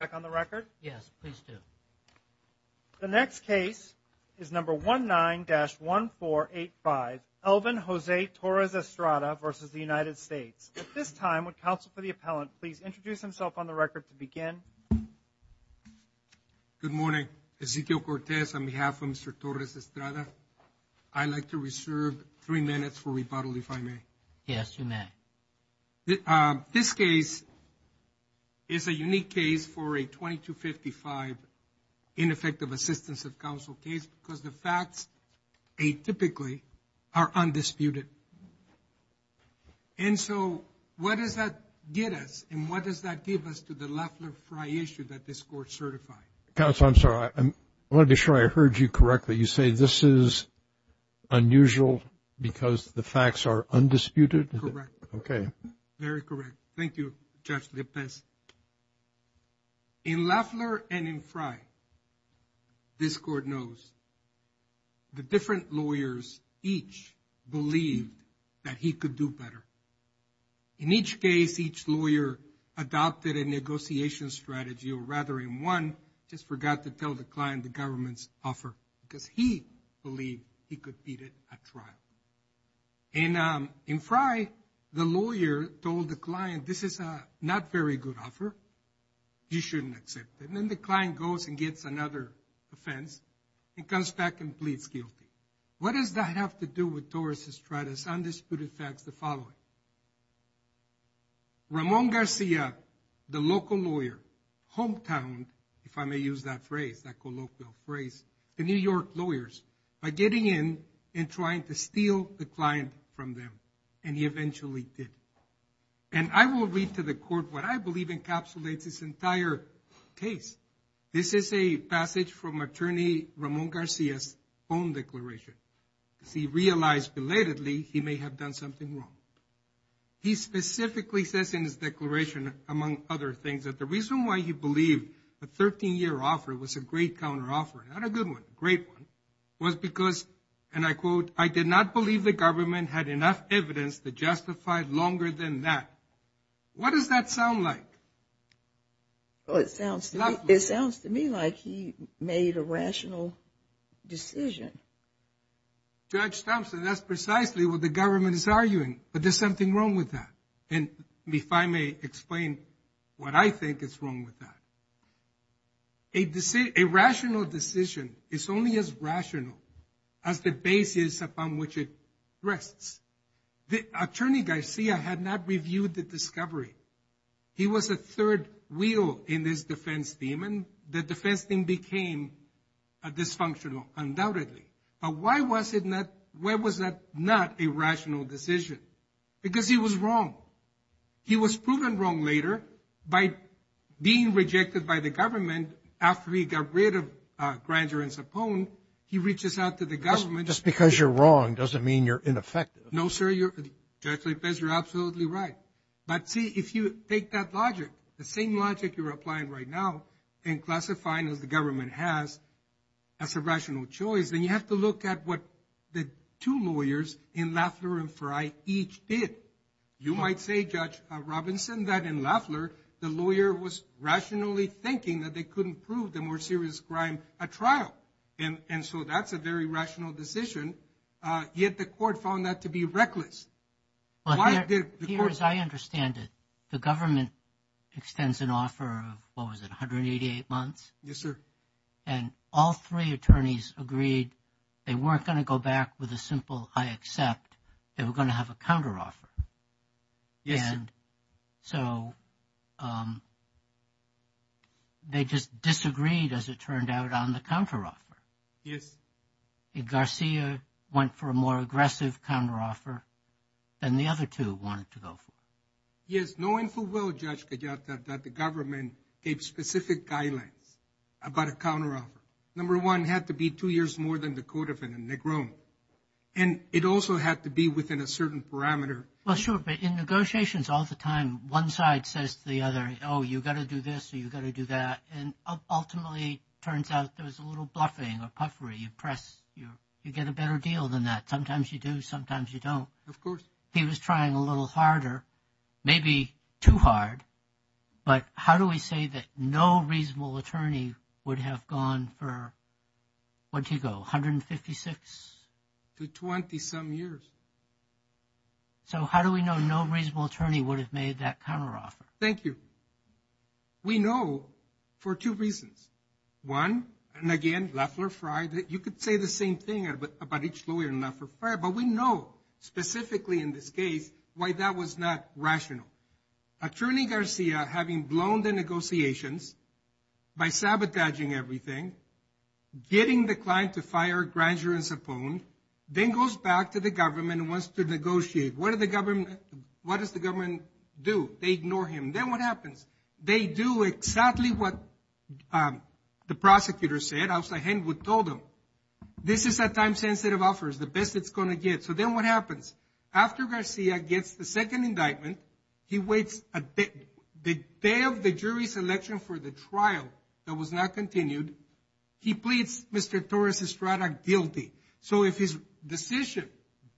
back on the record? Yes, please do. The next case is number 19-1485, Elvin Jose Torres-Estrada v. United States. At this time, would counsel for the appellant please introduce himself on the record to begin? Good morning. Ezequiel Cortez on behalf of Mr. Torres-Estrada. I'd like to reserve three minutes for rebuttal if I may. Yes, you may. This case is a unique case for a 2255 ineffective assistance of counsel case because the facts atypically are undisputed. And so what does that get us and what does that give us to the Leffler-Frey issue that this court certified? Counsel, I'm sorry. I want to be sure I heard you correctly. You say this is unusual because the facts are undisputed? Correct. Okay. Very correct. Thank you, Judge Lepez. In Leffler and in Frey, this court knows the different lawyers each believed that he could do better. In each case, each lawyer adopted a negotiation strategy or rather in one just forgot to tell the client the government's offer because he believed he could beat it at trial. And in Frey, the lawyer told the client this is a not very good offer. You shouldn't accept it. And then the client goes and gets another offense and comes back and pleads guilty. What does that have to do with Torres-Estrada's undisputed facts? It has to do with the following. Ramon Garcia, the local lawyer, hometown, if I may use that phrase, that colloquial phrase, the New York lawyers are getting in and trying to steal the client from them. And he eventually did. And I will read to the court what I believe encapsulates this entire case. This is a passage from Attorney Ramon Garcia's own declaration. He realized belatedly he may have done something wrong. He specifically says in his declaration, among other things, that the reason why he believed a 13-year offer was a great counteroffer, not a good one, a great one, was because, and I quote, I did not believe the government had enough evidence to justify longer than that. What does that sound like? It sounds to me like he made a rational decision. Judge Thompson, that's precisely what the government is arguing. But there's something wrong with that. And if I may explain what I think is wrong with that. A rational decision is only as rational as the basis upon which it rests. The attorney Garcia had not reviewed the discovery. He was a third wheel in this defense team, and the defense team became dysfunctional, undoubtedly. But why was that not a rational decision? Because he was wrong. He was proven wrong later by being rejected by the government after he got rid of Granger and Sapone. He reaches out to the government. Just because you're wrong doesn't mean you're ineffective. No, sir. Judge Lopez, you're absolutely right. But see, if you take that logic, the same logic you're applying right now, and classifying as the government has, as a rational choice, then you have to look at what the two lawyers in Lafleur and Frey each did. You might say, Judge Robinson, that in Lafleur, the lawyer was rationally thinking that they couldn't prove the more serious crime at trial. And so that's a very rational decision. Yet the court found that to be reckless. Well, here, as I understand it, the government extends an offer of, what was it, 188 months? Yes, sir. And all three attorneys agreed they weren't going to go back with a simple I accept. They were going to have a counteroffer. Yes, sir. And so they just disagreed, as it turned out, on the counteroffer. Yes. And Garcia went for a more aggressive counteroffer than the other two wanted to go for. Yes. Knowing full well, Judge Gallardo, that the government gave specific guidelines about a counteroffer. Number one, it had to be two years more than the code of a negron. And it also had to be within a certain parameter. Well, sure. But in negotiations all the time, one side says to the other, oh, you've got to do this or you've got to do that. And ultimately, it turns out there was a little bluffing or puffery. You press, you get a better deal than that. Sometimes you do, sometimes you don't. Of course. He was trying a little harder, maybe too hard. But how do we say that no reasonable attorney would have gone for, what did he go, 156? To 20 some years. So how do we know no reasonable attorney would have made that counteroffer? Thank you. We know for two reasons. One, and again, left or right, you could say the same thing about each lawyer, left or right, but we know specifically in this case why that was not rational. Attorney Garcia, having blown the negotiations by sabotaging everything, getting the client to fire a grand juror and sapone, then goes back to the government and wants to negotiate. What does the government do? They ignore him. Then what happens? They do exactly what the prosecutor said. Outside Henwood told them. This is a time-sensitive offer. It's the best it's going to get. So then what happens? After Garcia gets the second indictment, he waits a bit. The day of the jury selection for the trial that was not continued, he pleads Mr. Torres-Estrada guilty. So if his decision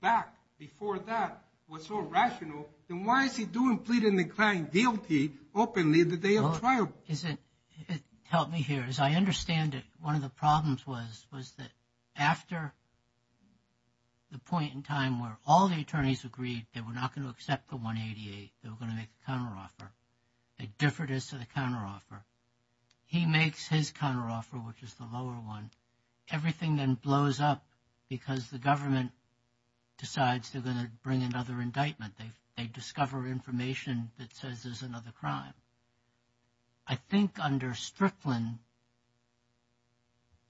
back before that was so rational, then why is he doing pleading the client guilty openly the day of trial? It helped me here. As I understand it, one of the problems was that after the point in time where all the attorneys agreed they were not going to accept the 188, they were going to make a counteroffer, they differed as to the counteroffer. He makes his counteroffer, which is the lower one. Everything then blows up because the government decides they're going to bring another indictment. They discover information that says there's another crime. I think under Strickland,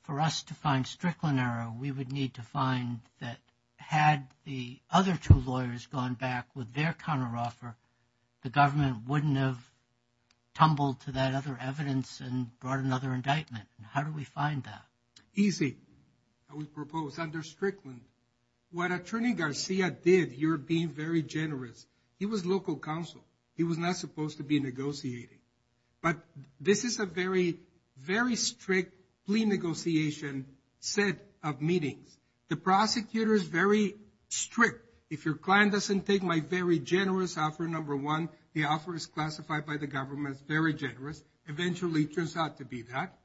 for us to find Strickland error, we would need to find that had the other two lawyers gone back with their counteroffer, the government wouldn't have tumbled to that other evidence and brought another indictment. How do we find that? Easy. How do we propose? Under Strickland, what Attorney Garcia did, you're being very generous. He was local counsel. He was not supposed to be negotiating. But this is a very, very strict plea negotiation set of meetings. The prosecutor is very strict. If your client doesn't take my very generous offer, number one, the offer is classified by the government as very generous. Eventually, it turns out to be that.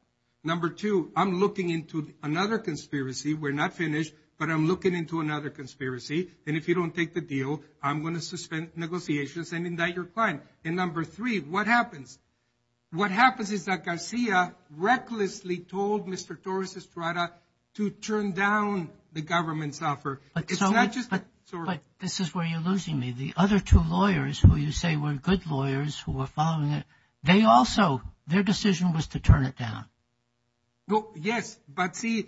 Number two, I'm looking into another conspiracy. We're not finished, but I'm looking into another conspiracy. And if you don't take the deal, I'm going to suspend negotiations and indict your client. And number three, what happens? What happens is that Garcia recklessly told Mr. Torres-Estrada to turn down the government's offer. But this is where you're losing me. The other two lawyers who you say were good lawyers who were following it, they also, their decision was to turn it down. Yes, but see,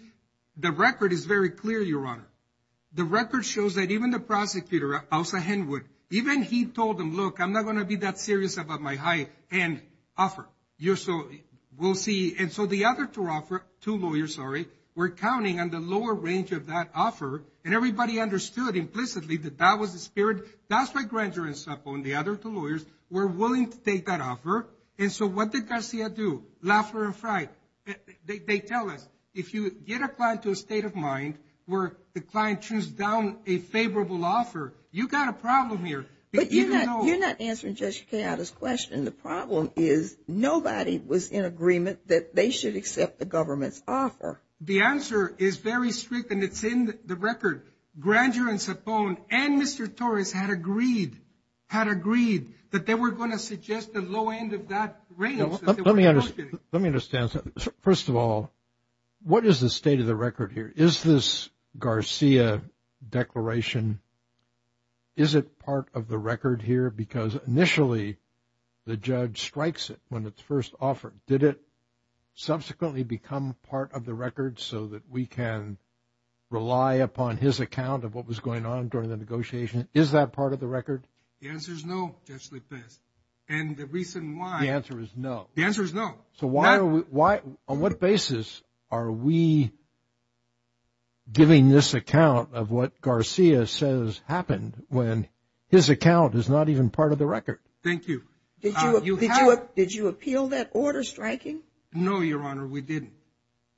the record is very clear, Your Honor. The record shows that even the prosecutor, Elsa Henwood, even he told them, look, I'm not going to be that serious about my high-end offer. We'll see. And so the other two lawyers were counting on the lower range of that offer, and everybody understood implicitly that that was the spirit. That's why Granger and Sapo and the other two lawyers were willing to take that offer. And so what did Garcia do? Laughter and fright. They tell us, if you get a client to a state of mind where the client tunes down a favorable offer, you've got a problem here. But you're not answering Judge Quijada's question. The problem is nobody was in agreement that they should accept the government's offer. The answer is very strict, and it's in the record. Granger and Sapo and Mr. Torres had agreed, had agreed that they were going to suggest the low end of that range. Let me understand. First of all, what is the state of the record here? Is this Garcia declaration, is it part of the record here? Because initially the judge strikes it when it's first offered. Did it subsequently become part of the record so that we can rely upon his account of what was going on during the negotiation? Is that part of the record? The answer is no, Judge Lippis. And the reason why. The answer is no. The answer is no. So why, on what basis are we giving this account of what Garcia says happened when his account is not even part of the record? Thank you. Did you appeal that order striking? No, Your Honor, we didn't.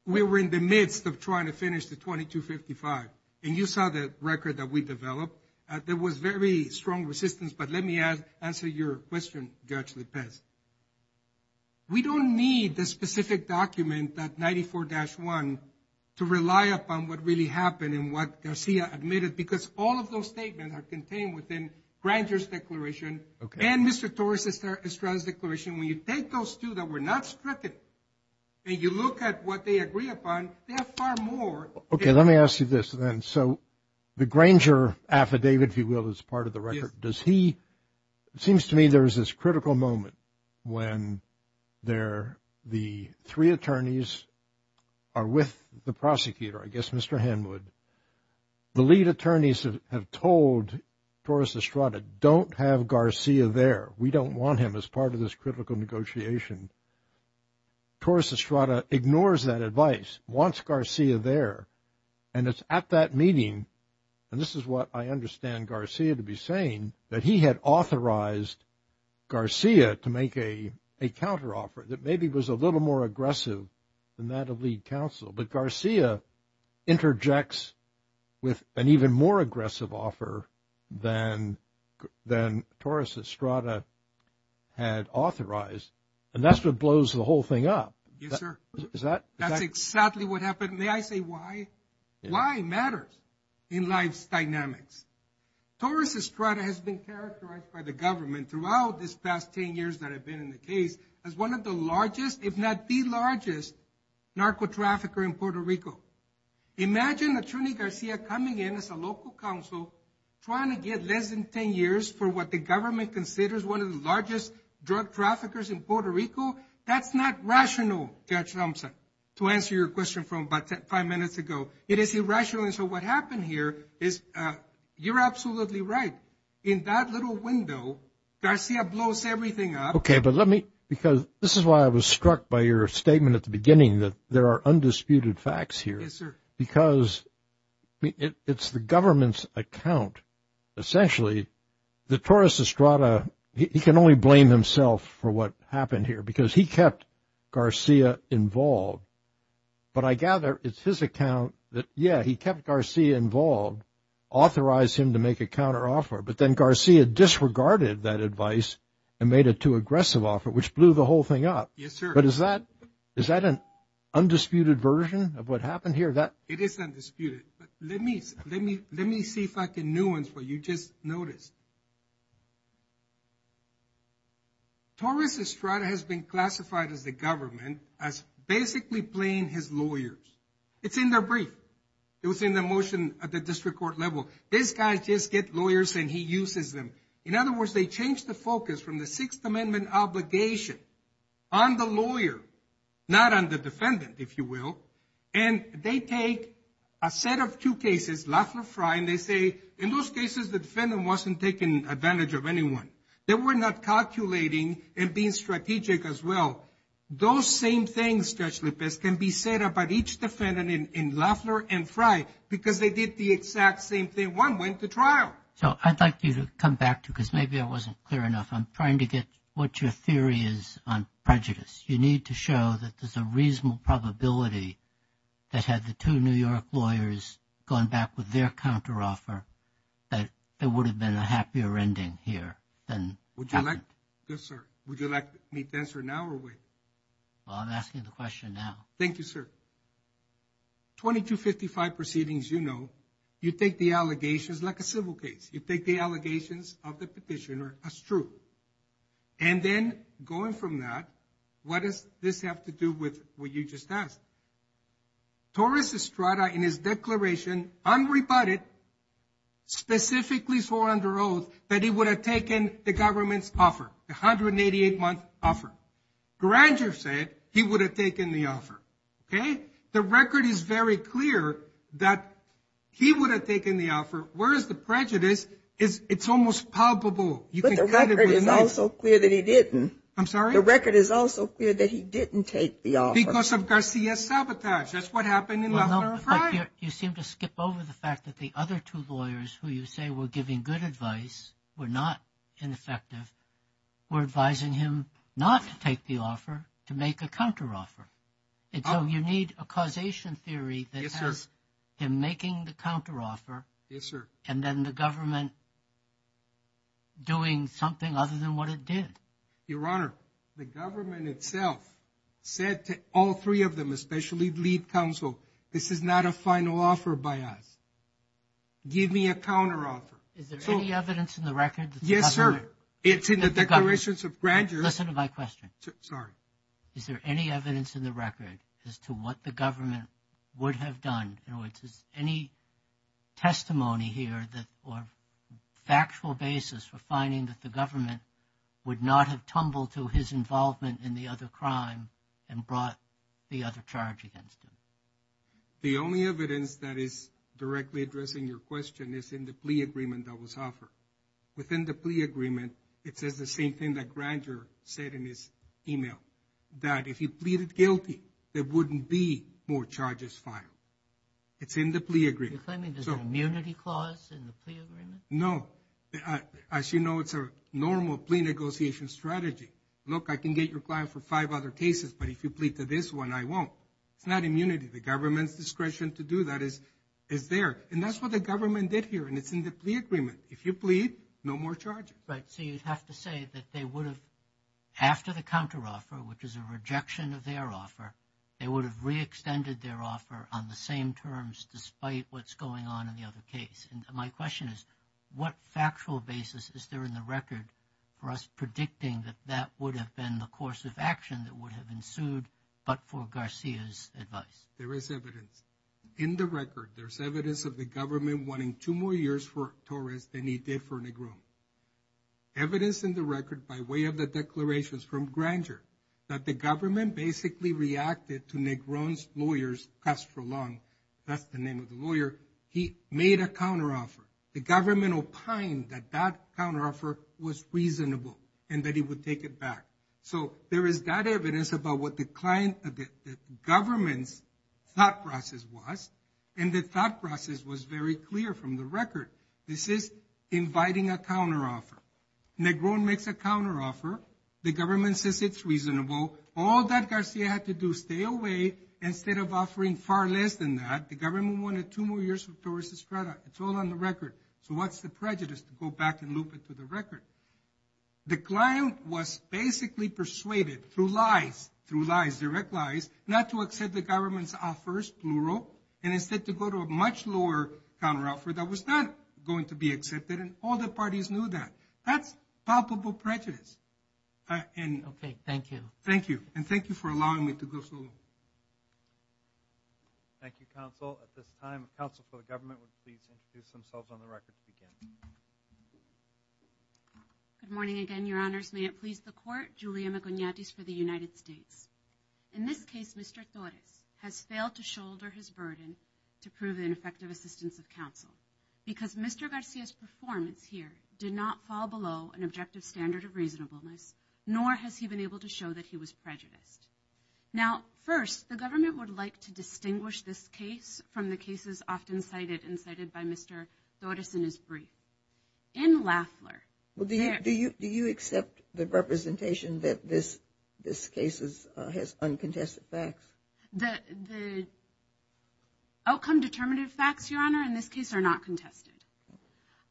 We were in the midst of trying to finish the 2255, and you saw the record that we developed. There was very strong resistance, but let me answer your question, Judge Lippis. We don't need the specific document, that 94-1, to rely upon what really happened and what Garcia admitted, because all of those statements are contained within Granger's declaration and Mr. Torres Estrada's declaration. When you take those two that were not struck, and you look at what they agree upon, there are far more. Okay, let me ask you this, then. So the Granger affidavit, if you will, is part of the record. It seems to me there is this critical moment when the three attorneys are with the prosecutor, I guess Mr. Henwood. The lead attorneys have told Torres Estrada, don't have Garcia there. We don't want him as part of this critical negotiation. Torres Estrada ignores that advice, wants Garcia there. And it's at that meeting, and this is what I understand Garcia to be saying, that he had authorized Garcia to make a counteroffer that maybe was a little more aggressive than that of lead counsel. But Garcia interjects with an even more aggressive offer than Torres Estrada had authorized. And that's what blows the whole thing up. Yes, sir. That's exactly what happened. May I say why? Why matters in life's dynamics. Torres Estrada has been characterized by the government throughout this past ten years that I've been in the case as one of the largest, if not the largest, narco-trafficker in Puerto Rico. Imagine Attorney Garcia coming in as a local counsel, trying to get less than ten years for what the government considers one of the largest drug traffickers in Puerto Rico. That's not rational, Judge Thompson, to answer your question from about five minutes ago. It is irrational. And so what happened here is you're absolutely right. In that little window, Garcia blows everything up. Okay, but let me, because this is why I was struck by your statement at the beginning, that there are undisputed facts here. Yes, sir. Because it's the government's account, essentially, that Torres Estrada, he can only blame himself for what happened here because he kept Garcia involved. But I gather it's his account that, yeah, he kept Garcia involved, authorized him to make a counteroffer, but then Garcia disregarded that advice and made a too aggressive offer, which blew the whole thing up. Yes, sir. But is that an undisputed version of what happened here? It is undisputed. Let me see if I can nuance what you just noticed. Torres Estrada has been classified as the government as basically playing his lawyers. It's in the brief. It was in the motion at the district court level. This guy just gets lawyers and he uses them. In other words, they changed the focus from the Sixth Amendment obligation on the lawyer, not on the defendant, if you will, and they take a set of two cases, Loeffler, Frye, and they say in those cases the defendant wasn't taking advantage of anyone. They were not calculating and being strategic as well. Those same things, Judge Lopez, can be said about each defendant in Loeffler and Frye because they did the exact same thing. One went to trial. So I'd like you to come back to because maybe I wasn't clear enough. I'm trying to get what your theory is on prejudice. You need to show that there's a reasonable probability that had the two New York lawyers gone back with their counteroffer, that there would have been a happier ending here. Yes, sir. Would you like me to answer now or wait? Well, I'm asking the question now. Thank you, sir. 2255 proceedings, you know, you take the allegations like a civil case. You take the allegations of the petitioner as true. And then going from that, what does this have to do with what you just asked? Torres Estrada, in his declaration, unrebutted, specifically for under oath, that he would have taken the government's offer, the 188-month offer. Granger said he would have taken the offer. Okay? The record is very clear that he would have taken the offer, whereas the prejudice, it's almost palpable. But the record is also clear that he didn't. I'm sorry? The record is also clear that he didn't take the offer. Because of Garcia's sabotage. That's what happened in last Friday. You seem to skip over the fact that the other two lawyers who you say were giving good advice were not ineffective, were advising him not to take the offer, to make a counteroffer. And so you need a causation theory that has him making the counteroffer. Yes, sir. And then the government doing something other than what it did. Your Honor, the government itself said to all three of them, especially lead counsel, this is not a final offer by us. Give me a counteroffer. Is there any evidence in the record that the government? Yes, sir. It's in the declarations of Granger. Listen to my question. Sorry. Is there any evidence in the record as to what the government would have done? Any testimony here or factual basis for finding that the government would not have tumbled to his involvement in the other crime and brought the other charge against him? The only evidence that is directly addressing your question is in the plea agreement that was offered. Within the plea agreement, it says the same thing that Granger said in his email. That if you pleaded guilty, there wouldn't be more charges filed. It's in the plea agreement. You're claiming there's an immunity clause in the plea agreement? No. As you know, it's a normal plea negotiation strategy. Look, I can get your client for five other cases, but if you plead to this one, I won't. It's not immunity. The government's discretion to do that is there. And that's what the government did here, and it's in the plea agreement. If you plead, no more charges. Right, so you'd have to say that they would have, after the counteroffer, which is a rejection of their offer, they would have re-extended their offer on the same terms despite what's going on in the other case. And my question is, what factual basis is there in the record for us predicting that that would have been the course of action that would have ensued but for Garcia's advice? There is evidence. In the record, there's evidence of the government wanting two more years for Torres than he did for Negron. Evidence in the record by way of the declarations from Granger that the government basically reacted to Negron's lawyer, Castro Long. That's the name of the lawyer. He made a counteroffer. The government opined that that counteroffer was reasonable and that he would take it back. So there is that evidence about what the government's thought process was, and the thought process was very clear from the record. This is inviting a counteroffer. Negron makes a counteroffer. The government says it's reasonable. All that Garcia had to do, stay away, instead of offering far less than that. The government wanted two more years for Torres Estrada. It's all on the record. So what's the prejudice to go back and loop it to the record? The client was basically persuaded through lies, through lies, direct lies, not to accept the government's offers, plural, and instead to go to a much lower counteroffer that was not going to be accepted, and all the parties knew that. That's palpable prejudice. Okay, thank you. Thank you, and thank you for allowing me to go through. Thank you, counsel. At this time, counsel for the government would please introduce themselves on the record to begin. Good morning again, Your Honors. May it please the Court, Julia Maconiatis for the United States. In this case, Mr. Torres has failed to shoulder his burden to prove an effective assistance of counsel because Mr. Garcia's performance here did not fall below an objective standard of reasonableness, nor has he been able to show that he was prejudiced. Now, first, the government would like to distinguish this case from the cases often cited and cited by Mr. Doddison as brief. In Lafleur. Do you accept the representation that this case has uncontested facts? The outcome-determinative facts, Your Honor, in this case are not contested.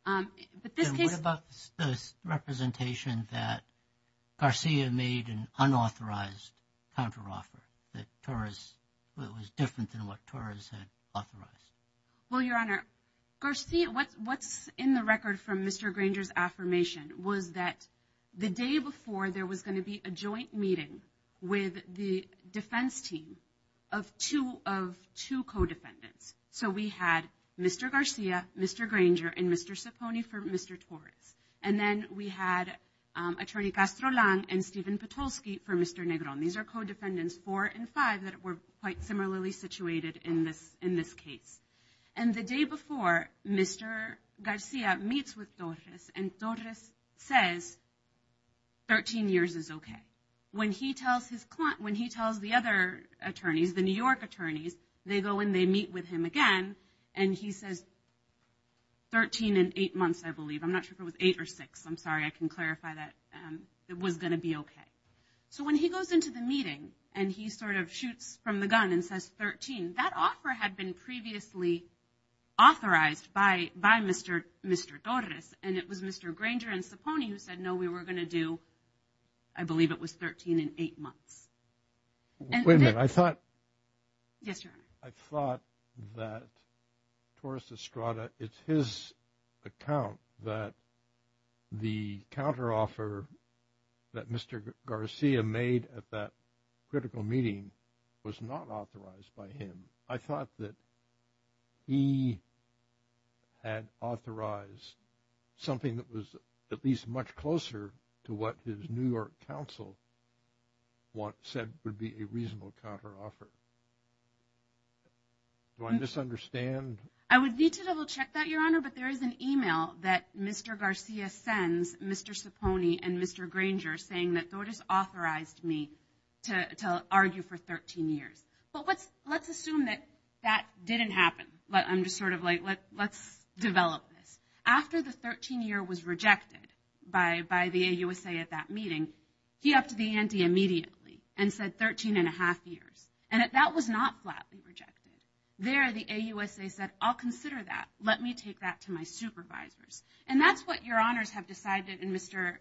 What about the representation that Garcia made an unauthorized counteroffer, that was different than what Torres had authorized? Well, Your Honor, what's in the record from Mr. Granger's affirmation was that the day before, there was going to be a joint meeting with the defense team of two co-defendants. So we had Mr. Garcia, Mr. Granger, and Mr. Cipone for Mr. Torres. And then we had Attorney Castro-Lang and Steven Petolsky for Mr. Negron. These are co-defendants four and five that were quite similarly situated in this case. And the day before, Mr. Garcia meets with Torres, and Torres says, 13 years is okay. And when he tells the other attorneys, the New York attorneys, they go and they meet with him again, and he says, 13 and 8 months, I believe. I'm not sure if it was 8 or 6. I'm sorry, I can clarify that. It was going to be okay. So when he goes into the meeting and he sort of shoots from the gun and says 13, that offer had been previously authorized by Mr. Torres, and it was Mr. Granger and Cipone who said, no, we were going to do, I believe it was 13 and 8 months. Wait a minute, I thought that Torres Estrada, it's his account that the counteroffer that Mr. Garcia made at that critical meeting was not authorized by him. I thought that he had authorized something that was at least much closer to what his New York counsel said would be a reasonable counteroffer. Do I misunderstand? I would need to double check that, Your Honor, but there is an email that Mr. Garcia sends Mr. Cipone and Mr. Granger saying that Torres authorized me to argue for 13 years. But let's assume that that didn't happen. I'm just sort of like, let's develop this. After the 13-year was rejected by the AUSA at that meeting, he upped the ante immediately and said 13 and a half years. And that was not flatly rejected. There the AUSA said, I'll consider that. Let me take that to my supervisors. And that's what Your Honors have decided and Mr.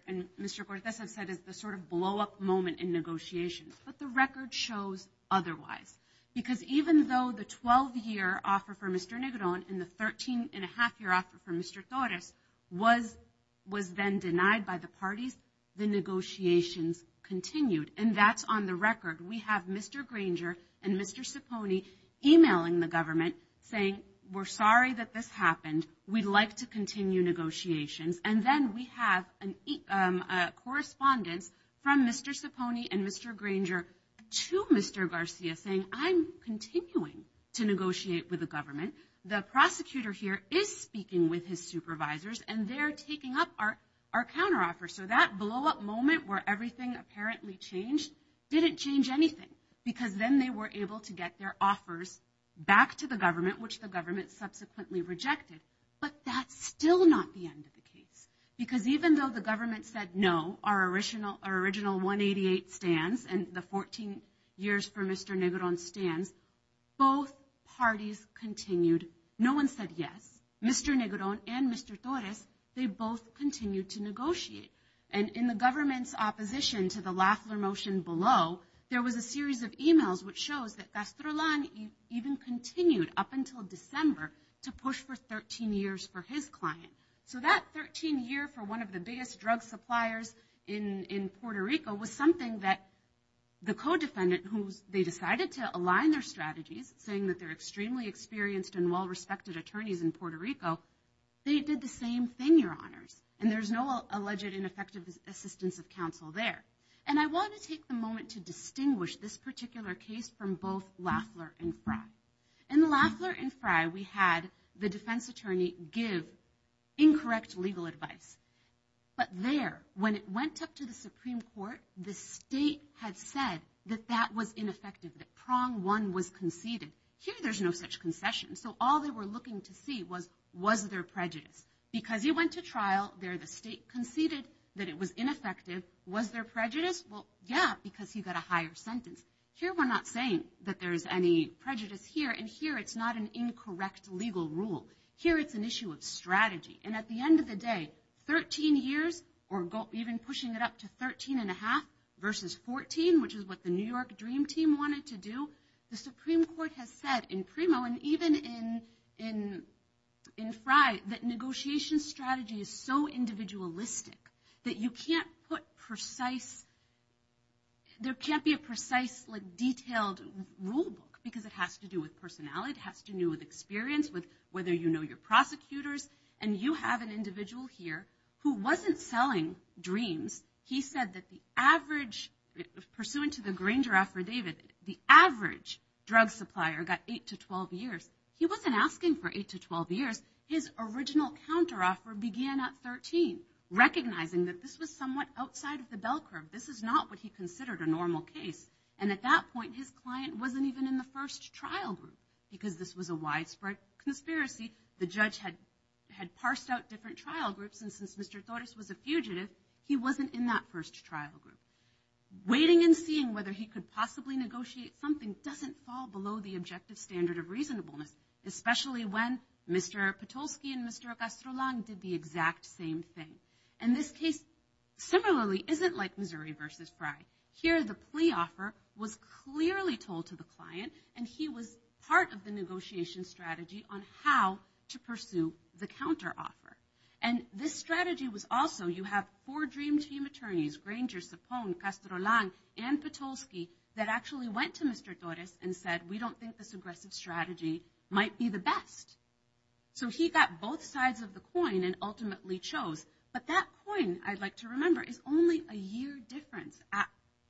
Cortez has said is the sort of blow-up moment in negotiations. But the record shows otherwise. Because even though the 12-year offer for Mr. Negron and the 13-and-a-half-year offer for Mr. Torres was then denied by the parties, the negotiations continued. And that's on the record. We have Mr. Granger and Mr. Cipone emailing the government saying, we're sorry that this happened. We'd like to continue negotiations. And then we have correspondence from Mr. Cipone and Mr. Granger to Mr. Garcia saying, I'm continuing to negotiate with the government. The prosecutor here is speaking with his supervisors and they're taking up our counteroffer. So that blow-up moment where everything apparently changed didn't change anything. Because then they were able to get their offers back to the government, which the government subsequently rejected. But that's still not the end of the case. Because even though the government said no, our original 188 stands and the 14 years for Mr. Negron stands, both parties continued. No one said yes. Mr. Negron and Mr. Torres, they both continued to negotiate. And in the government's opposition to the Lafler motion below, there was a series of emails which shows that Castrolan even continued up until December to push for 13 years for his client. So that 13 year for one of the biggest drug suppliers in Puerto Rico was something that the co-defendant, who they decided to align their strategies, saying that they're extremely experienced and well-respected attorneys in Puerto Rico, they did the same thing, Your Honors. And there's no alleged ineffective assistance of counsel there. And I want to take the moment to distinguish this particular case from both Lafler and Frye. In Lafler and Frye, we had the defense attorney give incorrect legal advice. But there, when it went up to the Supreme Court, the state had said that that was ineffective, that prong one was conceded. Here, there's no such concession. So all they were looking to see was, was there prejudice? Because he went to trial, there the state conceded that it was ineffective. Was there prejudice? Well, yeah, because he got a higher sentence. Here, we're not saying that there's any prejudice here. And here, it's not an incorrect legal rule. Here, it's an issue of strategy. And at the end of the day, 13 years, or even pushing it up to 13 and a half versus 14, which is what the New York Dream Team wanted to do, the Supreme Court has said in Primo and even in Frye, that negotiation strategy is so individualistic that you can't put precise, there can't be a precise, detailed rule book, because it has to do with personality, it has to do with experience, with whether you know your prosecutors. And you have an individual here who wasn't selling dreams. He said that the average, pursuant to the Granger Affidavit, the average drug supplier got 8 to 12 years. He wasn't asking for 8 to 12 years. His original counteroffer began at 13, recognizing that this was somewhat outside of the bell curve. This is not what he considered a normal case. And at that point, his client wasn't even in the first trial group, because this was a widespread conspiracy. The judge had parsed out different trial groups, and since Mr. Torres was a fugitive, he wasn't in that first trial group. Waiting and seeing whether he could possibly negotiate something doesn't fall below the objective standard of reasonableness, especially when Mr. Patulski and Mr. Castrolan did the exact same thing. And this case, similarly, isn't like Missouri v. Frye. Here, the plea offer was clearly told to the client, and he was part of the negotiation strategy on how to pursue the counteroffer. And this strategy was also, you have four Dream Team attorneys, Granger, Sapone, Castrolan, and Patulski, that actually went to Mr. Torres and said, we don't think this aggressive strategy might be the best. So he got both sides of the coin and ultimately chose. But that coin, I'd like to remember, is only a year difference at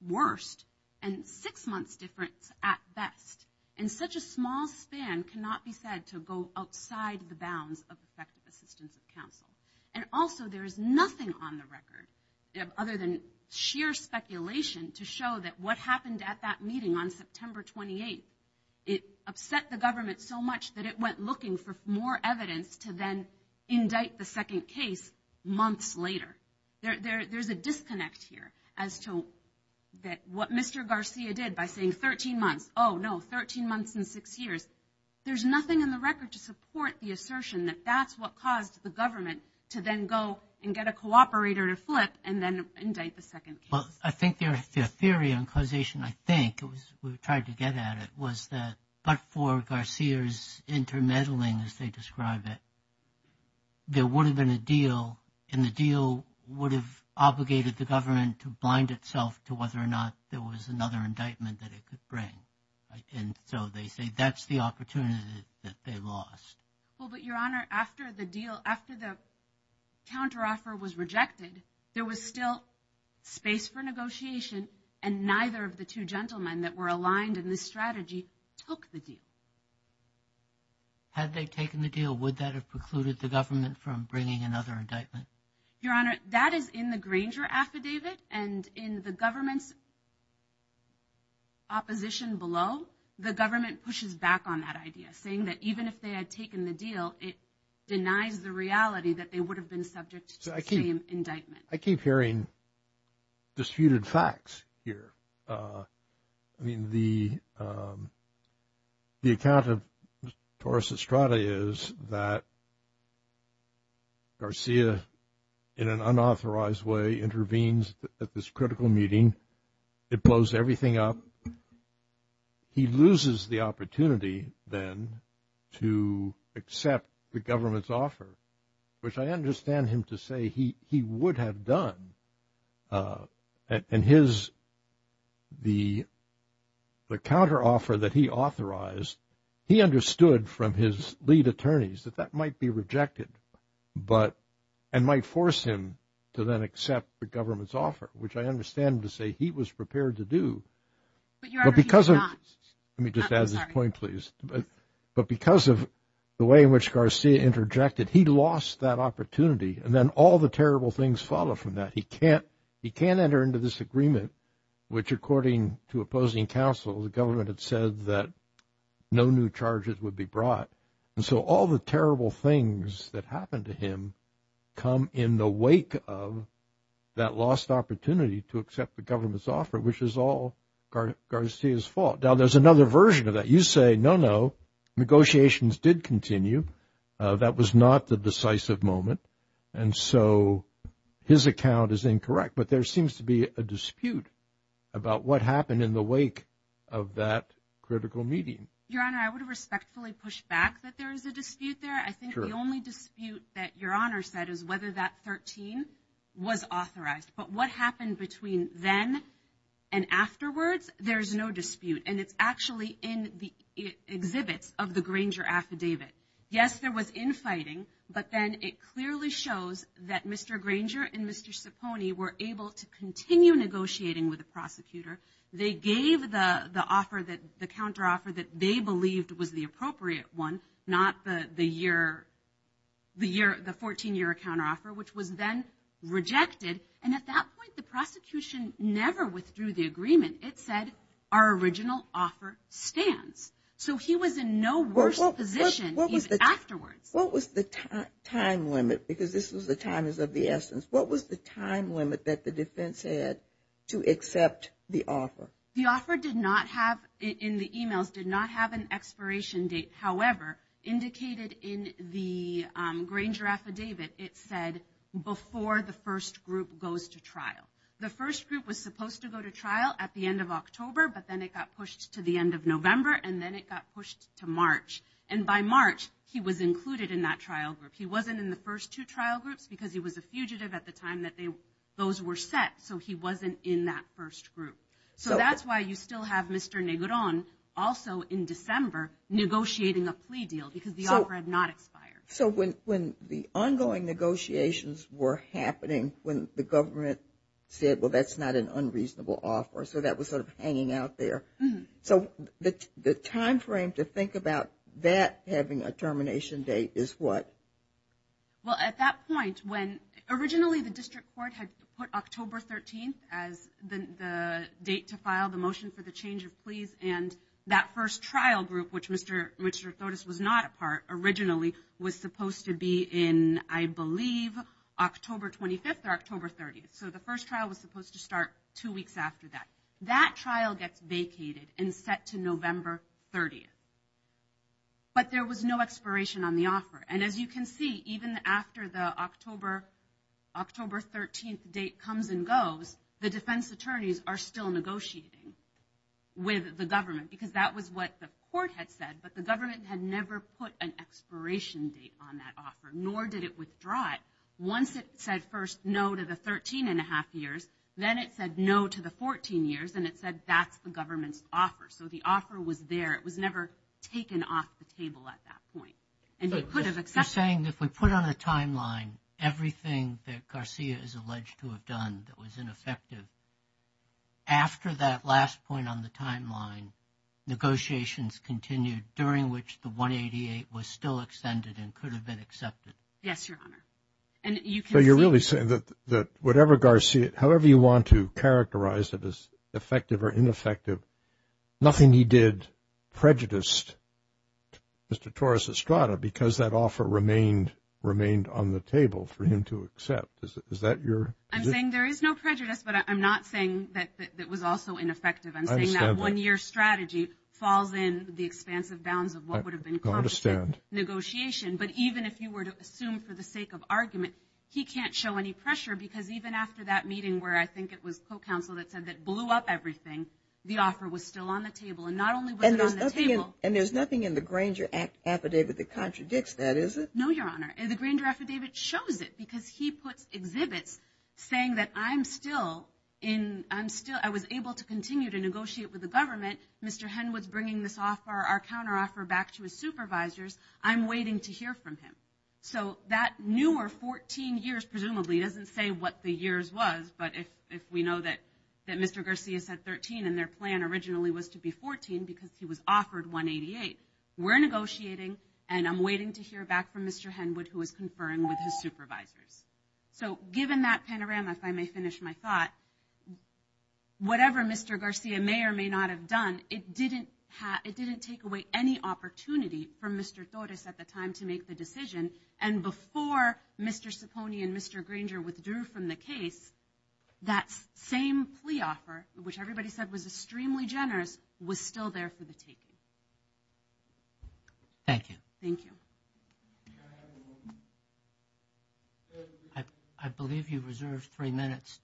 worst, and six months difference at best. And such a small span cannot be said to go outside the bounds of effective assistance of counsel. And also, there is nothing on the record, other than sheer speculation, to show that what happened at that meeting on September 28th, it upset the government so much that it went looking for more evidence to then indict the second case months later. There's a disconnect here as to what Mr. Garcia did by saying 13 months. Oh, no, 13 months and six years. There's nothing in the record to support the assertion that that's what caused the government to then go and get a cooperator to flip and then indict the second case. Well, I think there's a theory on causation, I think, we've tried to get at it, was that but for Garcia's intermeddling, as they describe it, there would have been a deal, and the deal would have obligated the government to blind itself to whether or not there was another indictment that it could bring. And so they say that's the opportunity that they lost. Well, but, Your Honor, after the deal, after the counteroffer was rejected, there was still space for negotiation, and neither of the two gentlemen that were aligned in this strategy took the deal. Had they taken the deal, would that have precluded the government from bringing another indictment? Your Honor, that is in the Granger affidavit, and in the government's opposition below, the government pushes back on that idea, saying that even if they had taken the deal, it denies the reality that they would have been subject to the same indictment. I keep hearing disputed facts here. I mean, the account of Torres Estrada is that Garcia, in an unauthorized way, intervenes at this critical meeting. It blows everything up. He loses the opportunity, then, to accept the government's offer, which I understand him to say he would have done. And the counteroffer that he authorized, he understood from his lead attorneys that that might be rejected and might force him to then accept the government's offer, which I understand him to say he was prepared to do. But, Your Honor, he's not. Let me just add this point, please. But because of the way in which Garcia interjected, he lost that opportunity, and then all the terrible things follow from that. He can't enter into this agreement, which, according to opposing counsel, the government had said that no new charges would be brought. And so all the terrible things that happened to him come in the wake of that lost opportunity to accept the government's offer, which is all Garcia's fault. Now, there's another version of that. You say, no, no, negotiations did continue. That was not the decisive moment. And so his account is incorrect. But there seems to be a dispute about what happened in the wake of that critical meeting. Your Honor, I would respectfully push back that there is a dispute there. I think the only dispute that Your Honor said is whether that 13 was authorized. But what happened between then and afterwards, there's no dispute. And it's actually in the exhibits of the Granger affidavit. Yes, there was infighting, but then it clearly shows that Mr. Granger and Mr. Cipone were able to continue negotiating with the prosecutor. They gave the counteroffer that they believed was the appropriate one, not the 14-year counteroffer, which was then rejected. And at that point, the prosecution never withdrew the agreement. It said our original offer stands. So he was in no worse position afterwards. What was the time limit? Because this was the time is of the essence. What was the time limit that the defense had to accept the offer? The offer did not have, in the e-mails, did not have an expiration date. However, indicated in the Granger affidavit, it said before the first group goes to trial. The first group was supposed to go to trial at the end of October, but then it got pushed to the end of November, and then it got pushed to March. And by March, he was included in that trial group. He wasn't in the first two trial groups because he was a fugitive at the time that those were set, so he wasn't in that first group. So that's why you still have Mr. Negron also in December negotiating a plea deal because the offer had not expired. So when the ongoing negotiations were happening, when the government said, well, that's not an unreasonable offer, so that was sort of hanging out there. So the time frame to think about that having a termination date is what? Well, at that point, when originally the district court had put October 13th as the date to file the motion for the change of pleas, and that first trial group, which Mr. Tordes was not a part originally, was supposed to be in, I believe, October 25th or October 30th. So the first trial was supposed to start two weeks after that. That trial gets vacated and set to November 30th. But there was no expiration on the offer. And as you can see, even after the October 13th date comes and goes, the defense attorneys are still negotiating with the government because that was what the court had said, but the government had never put an expiration date on that offer, nor did it withdraw it. Once it said first no to the 13-and-a-half years, then it said no to the 14 years, and it said that's the government's offer. So the offer was there. It was never taken off the table at that point. And you could have accepted it. You're saying if we put on a timeline everything that Garcia is alleged to have done that was ineffective, after that last point on the timeline, negotiations continued during which the 188 was still extended and could have been accepted? Yes, Your Honor. So you're really saying that whatever Garcia, however you want to characterize it as effective or ineffective, nothing he did prejudiced Mr. Torres Estrada because that offer remained on the table for him to accept. I'm saying there is no prejudice, but I'm not saying that it was also ineffective. I'm saying that one-year strategy falls in the expansive bounds of what would have been competent negotiation. But even if you were to assume for the sake of argument, he can't show any pressure because even after that meeting where I think it was co-counsel that said that blew up everything, the offer was still on the table. And not only was it on the table. And there's nothing in the Granger affidavit that contradicts that, is it? No, Your Honor. The Granger affidavit shows it because he puts exhibits saying that I'm still in, I was able to continue to negotiate with the government. Mr. Henwood's bringing this offer, our counteroffer, back to his supervisors. I'm waiting to hear from him. So that newer 14 years presumably doesn't say what the years was, but if we know that Mr. Garcia said 13 and their plan originally was to be 14 because he was offered 188, we're negotiating and I'm waiting to hear back from Mr. Henwood who is conferring with his supervisors. So given that panorama, if I may finish my thought, whatever Mr. Garcia may or may not have done, it didn't take away any opportunity from Mr. Torres at the time to make the decision. And before Mr. Ciponi and Mr. Granger withdrew from the case, that same plea offer, which everybody said was extremely generous, was still there for the taking. Thank you. Thank you. I believe you reserved three minutes.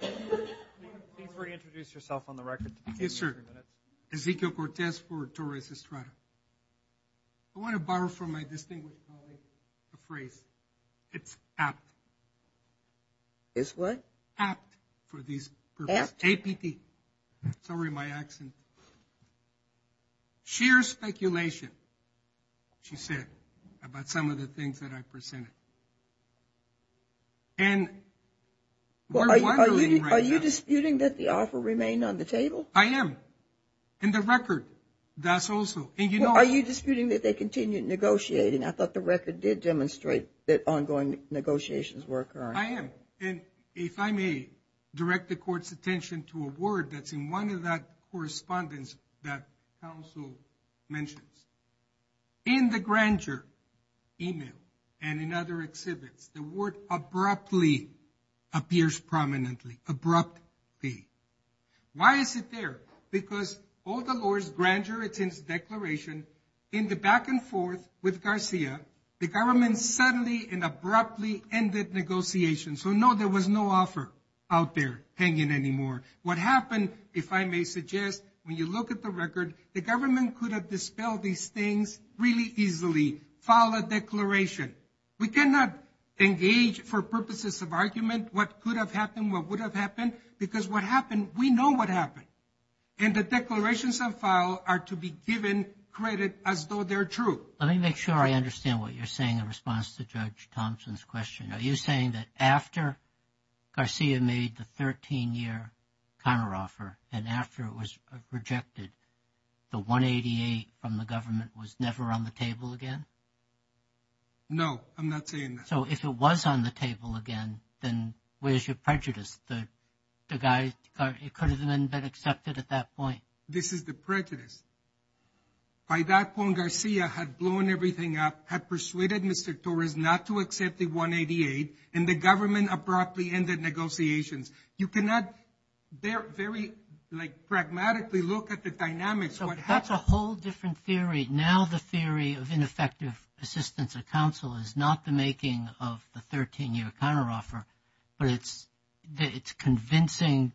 Before you introduce yourself on the record. Yes, sir. Ezekiel Cortez for Torres Estrada. I want to borrow from my distinguished colleague a phrase. It's apt. It's what? Apt for this purpose. Apt? A-P-P. Sorry, my accent. Sheer speculation, she said, about some of the things that I presented. And we're wondering right now. Are you disputing that the offer remained on the table? I am. In the record, that's also. Are you disputing that they continued negotiating? I thought the record did demonstrate that ongoing negotiations were occurring. I am. And if I may direct the court's attention to a word that's in one of that correspondence that counsel mentions. In the Granger email and in other exhibits, the word abruptly appears prominently. Abruptly. Why is it there? Because all the lawyers Granger attends declaration. In the back and forth with Garcia, the government suddenly and abruptly ended negotiations. So, no, there was no offer out there hanging anymore. What happened, if I may suggest, when you look at the record, the government could have dispelled these things really easily. File a declaration. We cannot engage for purposes of argument what could have happened, what would have happened. Because what happened, we know what happened. And the declarations of file are to be given credit as though they're true. Let me make sure I understand what you're saying in response to Judge Thompson's question. Are you saying that after Garcia made the 13-year counteroffer and after it was rejected, the 188 from the government was never on the table again? No, I'm not saying that. So, if it was on the table again, then where's your prejudice? The guy could have been accepted at that point. This is the prejudice. By that point, Garcia had blown everything up, had persuaded Mr. Torres not to accept the 188, and the government abruptly ended negotiations. You cannot very, like, pragmatically look at the dynamics. That's a whole different theory. I mean, now the theory of ineffective assistance of counsel is not the making of the 13-year counteroffer, but it's convincing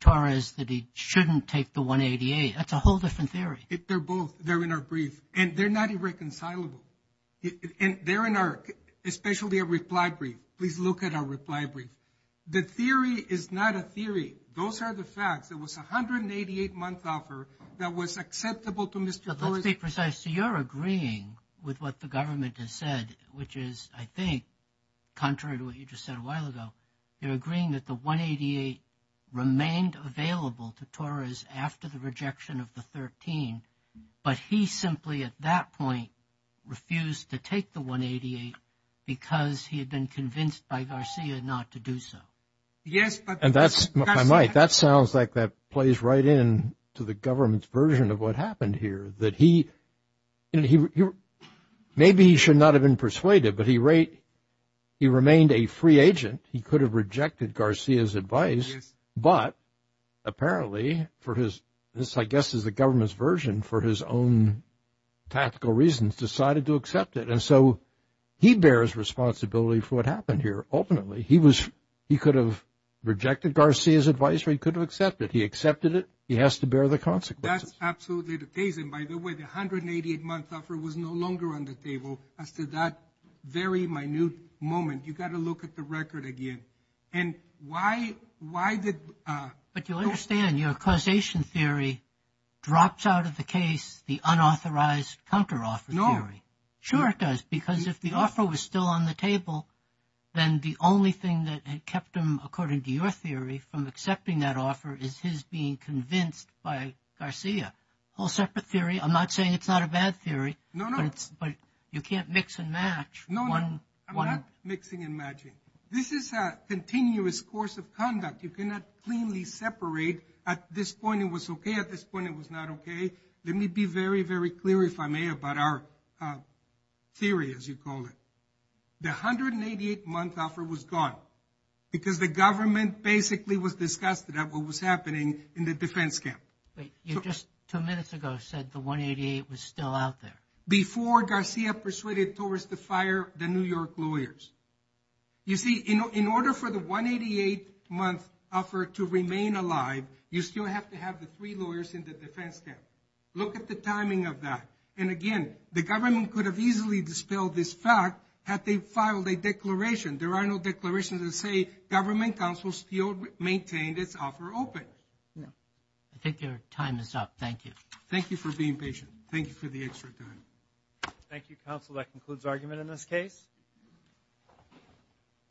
Torres that he shouldn't take the 188. That's a whole different theory. They're both. They're in our brief. And they're not irreconcilable. And they're in our, especially our reply brief. Please look at our reply brief. The theory is not a theory. Those are the facts. There was a 188-month offer that was acceptable to Mr. Torres. But let's be precise. You're agreeing with what the government has said, which is, I think, contrary to what you just said a while ago, you're agreeing that the 188 remained available to Torres after the rejection of the 13, but he simply, at that point, refused to take the 188 because he had been convinced by Garcia not to do so. And that's, if I might, that sounds like that plays right in to the government's version of what happened here, that he, maybe he should not have been persuaded, but he remained a free agent. He could have rejected Garcia's advice, but apparently for his, this, I guess, is the government's version for his own tactical reasons, decided to accept it. And so he bears responsibility for what happened here. Ultimately, he was, he could have rejected Garcia's advice or he could have accepted it. He accepted it. He has to bear the consequences. That's absolutely the case. And by the way, the 188-month offer was no longer on the table as to that very minute moment. You've got to look at the record again. And why, why did. But you'll understand your causation theory drops out of the case, the unauthorized counteroffer theory. No. Then the only thing that had kept him, according to your theory, from accepting that offer is his being convinced by Garcia. All separate theory. I'm not saying it's not a bad theory. No, no. But you can't mix and match one. I'm not mixing and matching. This is a continuous course of conduct. You cannot cleanly separate at this point it was okay, at this point it was not okay. Let me be very, very clear, if I may, about our theory, as you call it. The 188-month offer was gone. Because the government basically was disgusted at what was happening in the defense camp. Wait, you just two minutes ago said the 188 was still out there. Before Garcia persuaded Torres to fire the New York lawyers. You see, in order for the 188-month offer to remain alive, you still have to have the three lawyers in the defense camp. Look at the timing of that. And, again, the government could have easily dispelled this fact had they filed a declaration. There are no declarations that say government counsel still maintained its offer open. I think your time is up. Thank you. Thank you for being patient. Thank you for the extra time. Thank you, counsel. That concludes argument in this case.